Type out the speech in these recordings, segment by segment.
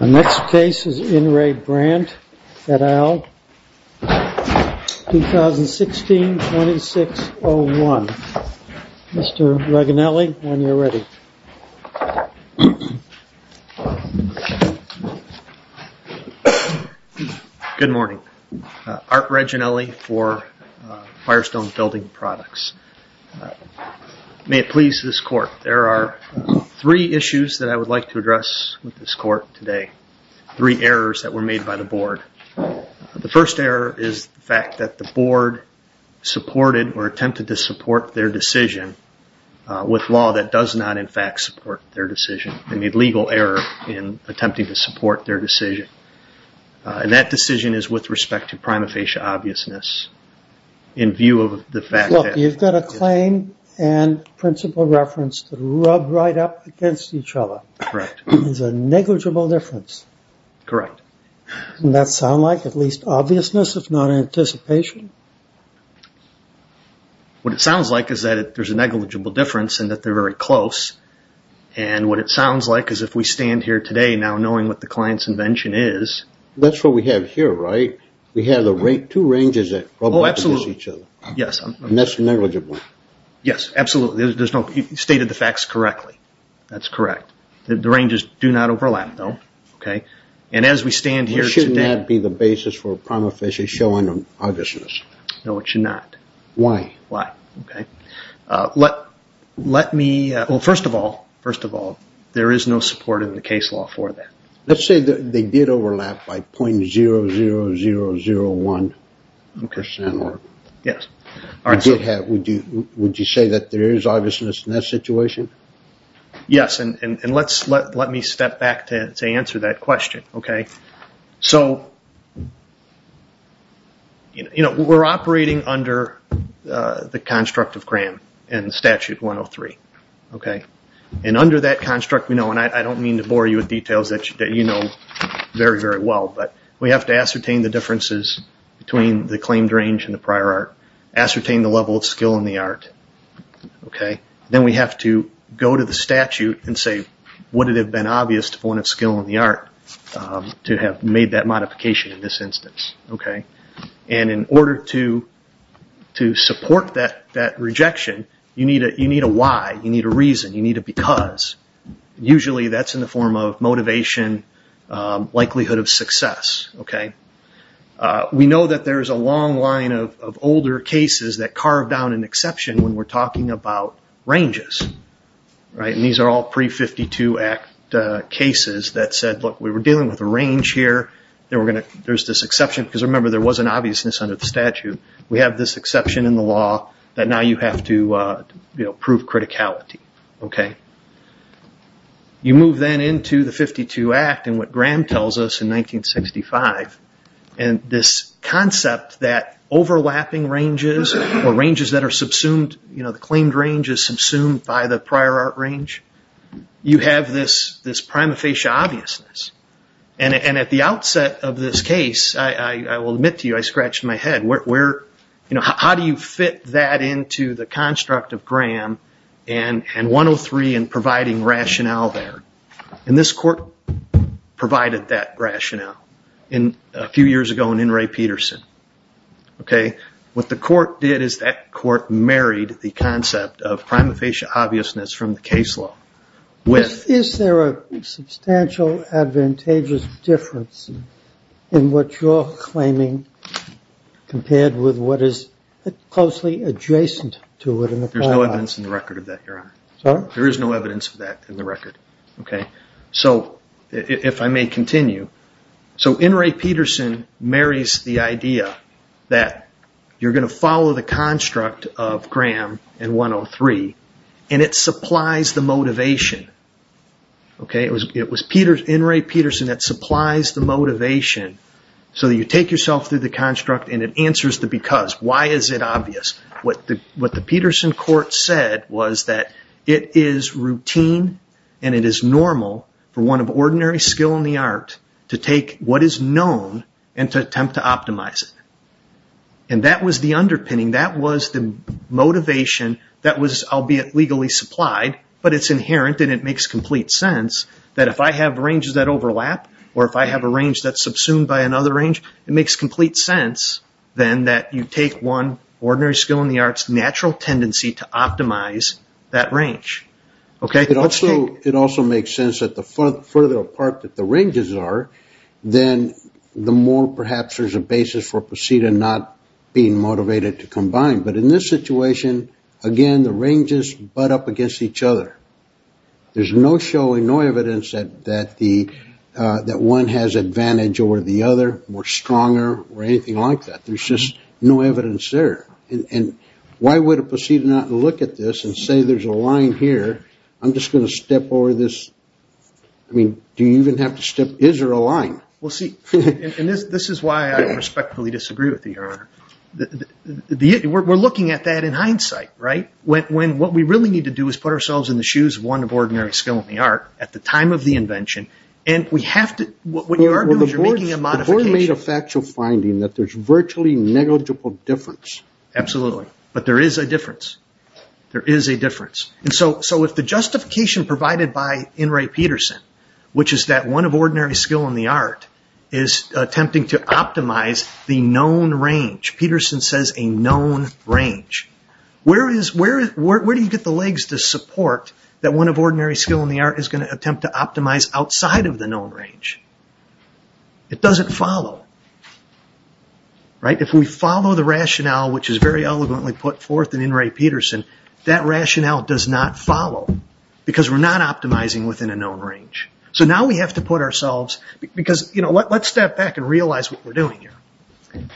The next case is In Re Brandt et al. 2016-2601. Mr. Reganelli, when you're ready. Good morning. Art Reganelli for Firestone Building Products. May it please this court, there are three issues that I would like to address with this court today. Three errors that were made by the board. The first error is the fact that the board supported or attempted to support their decision with law that does not in fact support their decision. They made legal error in attempting to support their decision. And that decision is with respect to prima facie obviousness. In view of the fact that... You've got a claim and principal reference rubbed right up against each other. Correct. It's a negligible difference. Correct. Doesn't that sound like at least obviousness if not anticipation? What it sounds like is that there's a negligible difference and that they're very close. And what it sounds like is if we stand here today now knowing what the client's invention is... That's what we have here, right? We have two ranges that rub up against each other. Oh, absolutely. And that's negligible. Yes, absolutely. You stated the facts correctly. That's correct. The ranges do not overlap though. And as we stand here today... Shouldn't that be the basis for a prima facie showing of obviousness? No, it should not. Why? Why? Okay. Let me... Well, first of all, there is no support in the case law for that. Let's say that they did overlap by 0.00001 percent. Would you say that there is obviousness in that situation? Yes. And let me step back to answer that question. So, we're operating under the construct of CRAM and Statute 103. And under that construct we know, and I don't mean to bore you with details that you know very, very well, but we have to ascertain the differences between the claimed range and the prior art, ascertain the level of skill in the art. Then we have to go to the statute and say, would it have been obvious to point of skill in the art to have made that modification in this instance? And in order to support that rejection, you need a why, you need a reason, you need a because. Usually that's in the form of motivation, likelihood of success. We know that there is a long line of older cases that carve down an exception when we're talking about ranges. And these are all pre-52 Act cases that said, look, we were dealing with a range here. There's this exception, because remember there was an obviousness under the statute. We have this exception in the law that now you have to prove criticality. You move then into the 52 Act and what Graham tells us in 1965. And this concept that overlapping ranges or ranges that are subsumed, you know, the claimed range is subsumed by the prior art range. You have this prima facie obviousness. And at the outset of this case, I will admit to you, I scratched my head. How do you fit that into the construct of Graham and 103 and providing rationale there? And this court provided that rationale a few years ago in what the court did is that court married the concept of prima facie obviousness from the case law with... Is there a substantial advantageous difference in what you're claiming compared with what is closely adjacent to it in the prior art? There's no evidence in the record of that, Your Honor. Sorry? There is no evidence of that in the record. Okay. So if I may continue. So N. Ray Peterson marries the idea that you're going to follow the construct of Graham and 103 and it supplies the motivation. It was N. Ray Peterson that supplies the motivation so that you take yourself through the construct and it answers the because. Why is it obvious? What the Peterson court said was that it is routine and it is normal for one of ordinary skill in the art to take what is known and to attempt to optimize it. And that was the underpinning. That was the motivation that was, albeit legally supplied, but it's inherent and it makes complete sense that if I have ranges that overlap or if I have a range that's subsumed by another range, it makes complete sense then that you take one ordinary skill in the arts natural tendency to optimize that range. Okay. It also makes sense that the further apart that the ranges are, then the more perhaps there's a basis for Posida not being motivated to combine. But in this situation, again, the ranges butt up against each other. There's no showing, no evidence that one has advantage over the other, more stronger or anything like that. There's just no evidence there. Why would a Posida not look at this and say there's a line here? I'm just going to step over this. Do you even have to step? Is there a line? This is why I respectfully disagree with you, Your Honor. We're looking at that in hindsight. What we really need to do is put ourselves in the shoes of one of ordinary skill in the art at the time of the invention. And we have to, what you are doing is you're making a modification. You're making a factual finding that there's virtually negligible difference. Absolutely. But there is a difference. There is a difference. So if the justification provided by In Ray Peterson, which is that one of ordinary skill in the art is attempting to optimize the known range. Peterson says a known range. Where do you get the legs to support that one of ordinary skill in the art is going to attempt to optimize outside of the known range? It doesn't follow. If we follow the rationale, which is very eloquently put forth in In Ray Peterson, that rationale does not follow because we're not optimizing within a known range. So now we have to put ourselves, because let's step back and realize what we're doing here.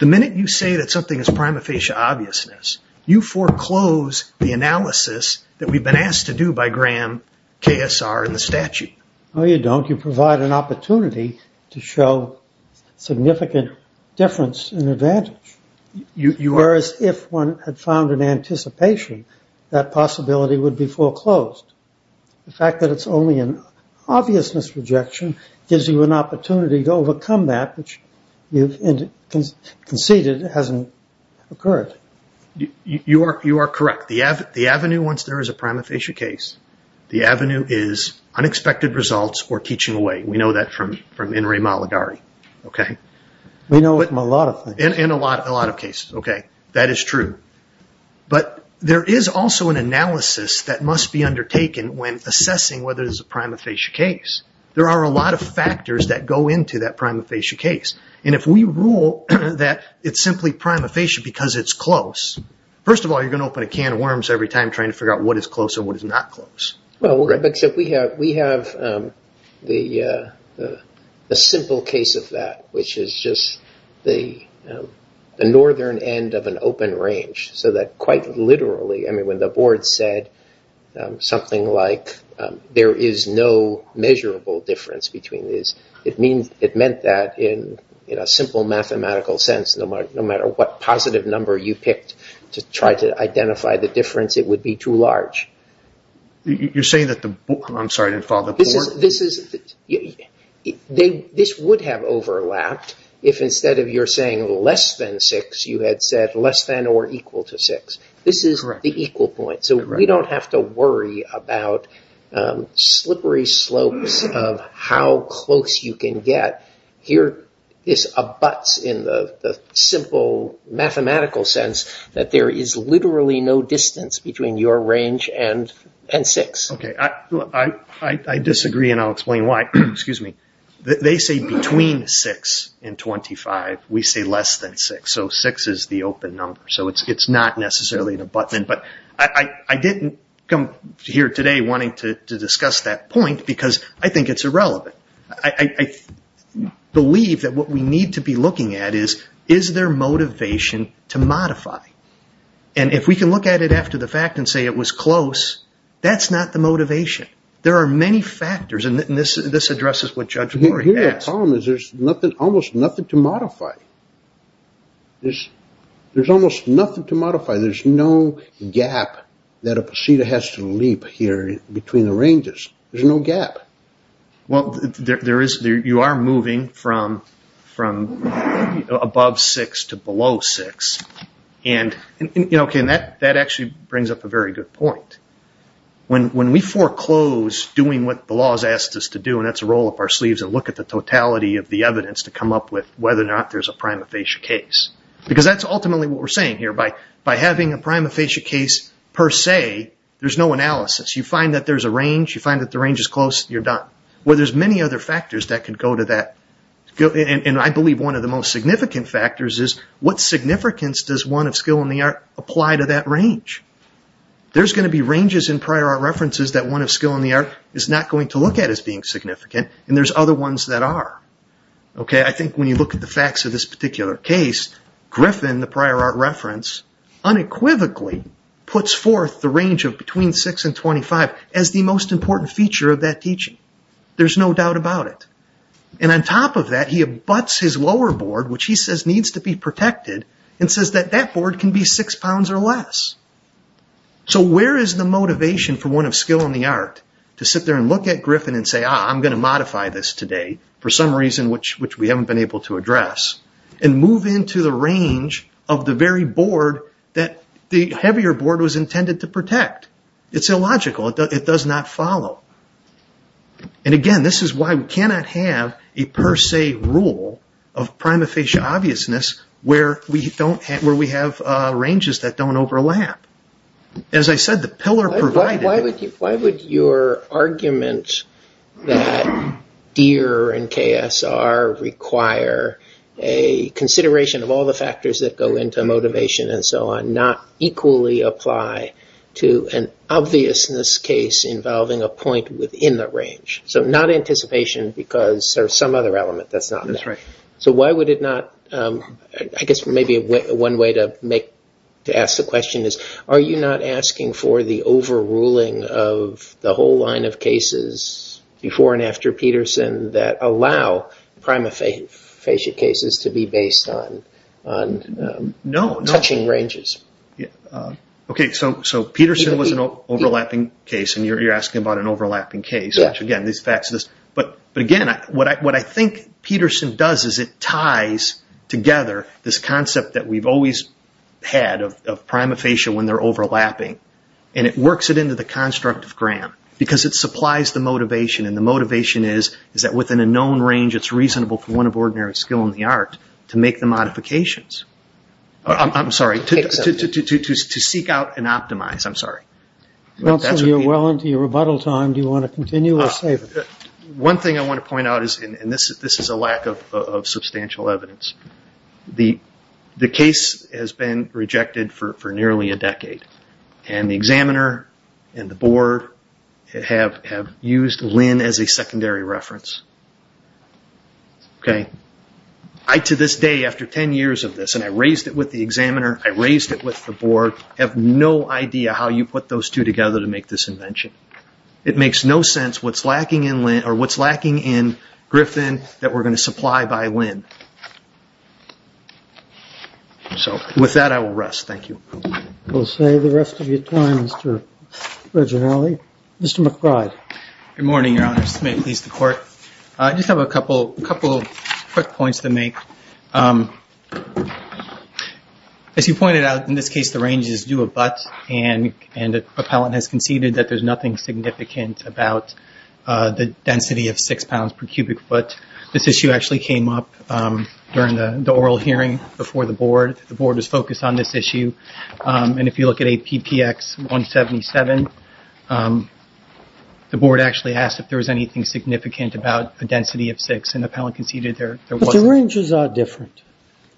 The minute you say that something is prima facie obviousness, you foreclose the analysis that we've been asked to do by Graham, KSR, and the statute. No, you don't. You provide an opportunity to show significant difference and advantage. Whereas if one had found an anticipation, that possibility would be foreclosed. The fact that it's only an obviousness rejection gives you an opportunity to overcome that, which you conceded hasn't occurred. You are correct. The avenue once there is a prima facie case, the avenue is unexpected results or teaching away. We know that from In Ray Malagari. We know it in a lot of things. In a lot of cases. That is true. But there is also an analysis that must be undertaken when assessing whether there's a prima facie case. There are a lot of factors that go into that prima facie case. If we rule that it's simply prima facie because it's close, first of all, you're going to open a can of worms every time trying to figure out what is close and what is not close. We have a simple case of that, which is just the northern end of an open range. Quite literally, when the board said something like, there is no measurable difference between it meant that in a simple mathematical sense, no matter what positive number you picked to try to identify the difference, it would be too large. This would have overlapped if instead of you saying less than six, you had said less than or equal to six. This is the equal point. We don't have to worry about slippery slopes of how close you can get. Here, this abuts in the simple mathematical sense that there is literally no distance between your range and six. I disagree and I'll explain why. They say between six and 25, we say less than six. Six is the open number. It's not necessarily an abutment. I didn't come here today wanting to discuss that point because I think it's irrelevant. I believe that what we need to be looking at is, is there motivation to modify? If we can look at it after the fact and say it was close, that's not the motivation. There are many factors. This addresses what Judge Lurie asked. Here, the problem is there's almost nothing to modify. There's almost nothing to modify. There's no gap that a proceeder has to leap here between the ranges. There's no gap. You are moving from above six to below six. That actually brings up a very good point. When we foreclose doing what the law has asked us to do, and that's roll up our sleeves and look at the totality of the evidence to come up with whether or not there's a prima facie case. That's ultimately what we're saying here. By having a prima facie case per se, there's no analysis. You find that there's a range. You find that the range is close. You're done. There's many other factors that could go to that. I believe one of the most significant factors is what significance does one of skill in the art apply to that range? There's going to be ranges in prior art references that one of skill in the art is not going to look at as being significant, and there's other ones that are. I think when you look at the facts of this particular case, Griffin, the prior art reference, unequivocally puts forth the range of between six and 25 as the most important feature of that teaching. There's no doubt about it. On top of that, he abuts his lower board, which he says needs to be protected, and says that that board can be six pounds or less. So where is the motivation for one of skill in the art to sit there and look at Griffin and say, I'm going to modify this today for some reason, which we haven't been able to address, and move into the range of the very board that the heavier board was intended to protect? It's illogical. It does not follow. Again, this is why we cannot have a per se rule of prima facie obviousness where we have ranges that don't overlap. As I said, the pillar provided— Why would your argument that Deere and KSR require a consideration of all the factors that go into motivation and so on not equally apply to an obviousness case involving a point within the range? So not anticipation because there's some other element that's not there. That's right. So why would it not—I guess maybe one way to ask the question is, are you not asking for the overruling of the whole line of cases before and after Peterson that allow prima facie cases to be based on touching ranges? No. Okay, so Peterson was an overlapping case, and you're asking about an overlapping case, which again, these facts—but again, what I think Peterson does is it ties together this concept that we've always had of prima facie when they're overlapping, and it works it into the construct of Graham because it supplies the motivation, and the motivation is that within a known range, it's reasonable for one of ordinary skill in the art to make the modifications. I'm sorry, to seek out and optimize. I'm sorry. Council, you're well into your rebuttal time. Do you want to continue or save it? One thing I want to point out is—and this is a lack of substantial evidence. The case has been rejected for nearly a decade, and the examiner and the board have used Lynn as a secondary reference. I, to this day, after 10 years of this, and I raised it with the examiner, I raised it with the board, have no idea how you put those two together to make this invention. It makes no sense what's lacking in Lynn—or what's lacking in Griffin that we're going to supply by Lynn. So, with that, I will rest. Thank you. We'll save the rest of your time, Mr. Reginaldi. Mr. McBride. Good morning, Your Honors. May it please the Court. I just have a couple quick points to make. As you pointed out, in this case, the range is due of buts, and the appellant has conceded that there's nothing significant about the density of 6 pounds per cubic foot. This issue actually came up during the oral hearing before the board. The board was focused on this issue, and if you look at APPX 177, the board actually asked if there was anything significant about the density of 6, and the appellant conceded there wasn't. But the ranges are different.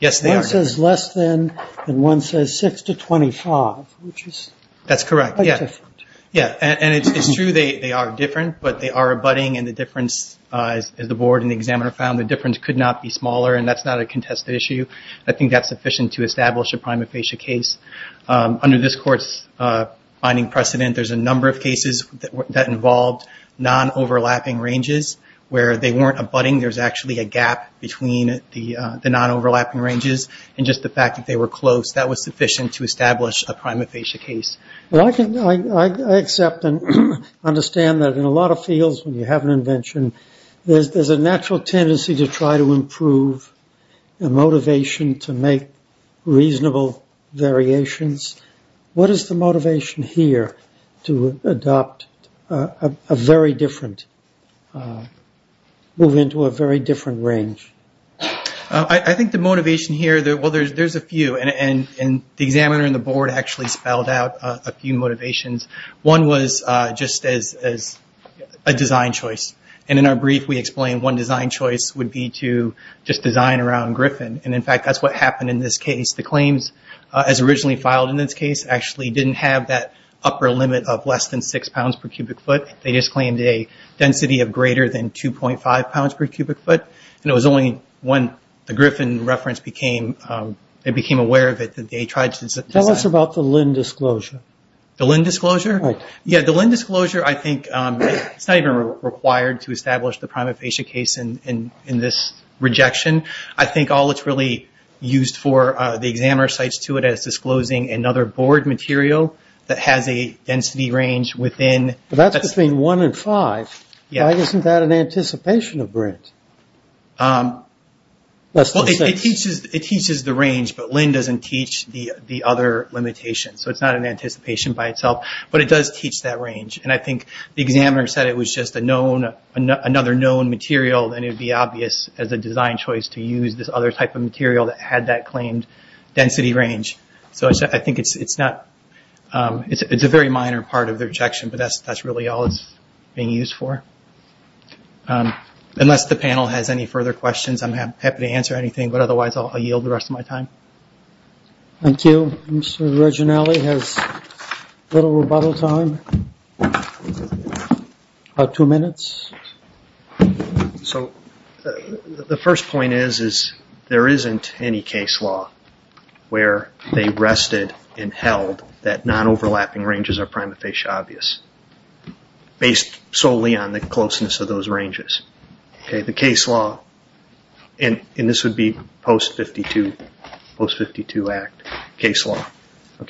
Yes, they are. One says less than, and one says 6 to 25, which is quite different. Yes, and it's true they are different, but they are abutting, and the difference, as the board and the examiner found, the difference could not be smaller, and that's not a contested issue. I think that's sufficient to establish a prima facie case. Under this Court's finding precedent, there's a number of cases that involved non-overlapping ranges where they weren't abutting. There's actually a gap between the non-overlapping ranges and just the fact that they were close. That was sufficient to establish a prima facie case. I accept and understand that in a lot of fields, when you have an invention, there's a natural tendency to try to improve the motivation to make reasonable variations. What is the motivation here to adopt a very different, move into a very different range? I think the motivation here, well, there's a few, and the examiner and the board actually spelled out a few motivations. One was just as a design choice, and in our brief, we explained one design choice would be to just design around Griffin, and in fact, that's what happened in this case. The claims, as originally filed in this case, actually didn't have that upper limit of less than 6 pounds per cubic foot. They just claimed a density of greater than 2.5 pounds per cubic foot, and it was only when the Griffin reference became, they became aware of it that they tried to- Tell us about the Lynn disclosure. The Lynn disclosure? Right. Yeah, the Lynn disclosure, I think it's not even required to establish the prima facie case in this rejection. I think all it's really used for, the examiner cites to it as disclosing another board material that has a density range within- That's between 1 and 5. Yeah. Why isn't that an anticipation of Brent? Less than 6. It teaches the range, but Lynn doesn't teach the other limitations, so it's not an anticipation by itself, but it does teach that range. I think the examiner said it was just another known material, and it would be obvious as a design choice to use this other type of material that had that claimed density range. I think it's a very minor part of the rejection, but that's really all it's being used for. Unless the panel has any further questions, I'm happy to answer anything, but otherwise I'll yield the rest of my time. Thank you. Mr. Reginelli has a little rebuttal time, about two minutes. The first point is there isn't any case law where they rested and held that non-overlapping ranges are prima facie obvious, based solely on the closeness of those ranges. The case law, and this would be post-52 Act case law,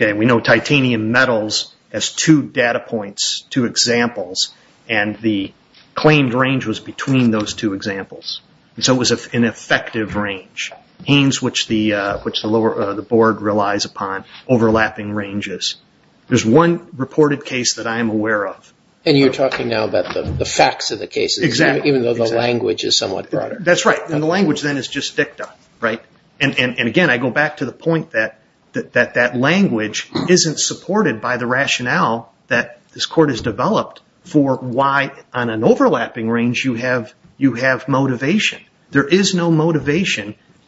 we know titanium metals has two data points, two examples, and the claimed range was between those two examples, so it was an effective range, which the board relies upon, overlapping ranges. There's one reported case that I'm aware of. And you're talking now about the facts of the case, even though the language is somewhat broader. That's right, and the language then is just dicta. And again, I go back to the point that that language isn't supported by the rationale that this Court has developed for why on an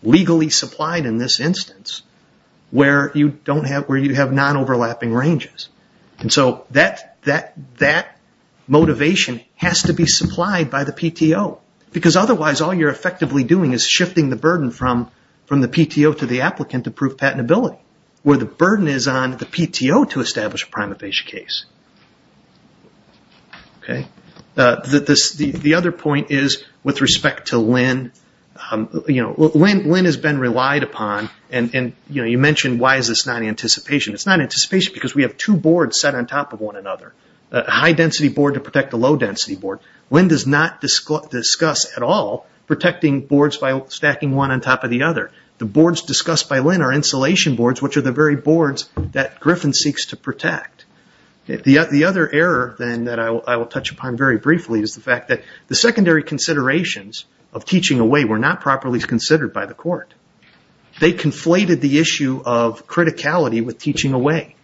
legally supplied in this instance, where you have non-overlapping ranges. And so that motivation has to be supplied by the PTO, because otherwise all you're effectively doing is shifting the burden from the PTO to the applicant to prove patentability, where the burden is on the PTO to establish a prima facie case. Okay, the other point is with respect to Linn. Linn has been relied upon, and you mentioned why is this not anticipation. It's not anticipation because we have two boards set on top of one another. A high density board to protect a low density board. Linn does not discuss at all protecting boards by stacking one on top of the other. The boards discussed by Linn are insulation boards, which are the very boards that Griffin seeks to protect. The other error then that I will touch upon very briefly is the fact that the secondary considerations of teaching away were not properly considered by the Court. They conflated the issue of criticality with teaching away.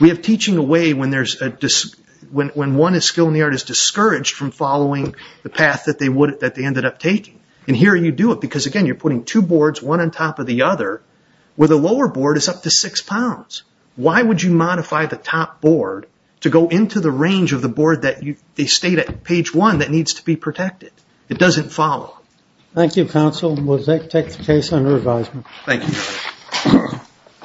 We have teaching away when one is skilled in the art is discouraged from following the path that they ended up taking. And here you do it, because again, you're putting two boards, one on top of the other, where the lower board is up to six pounds. Why would you modify the top board to go into the range of the board that they state at page one that needs to be protected? It doesn't follow. Thank you, counsel. We'll take the case under advisement. Thank you.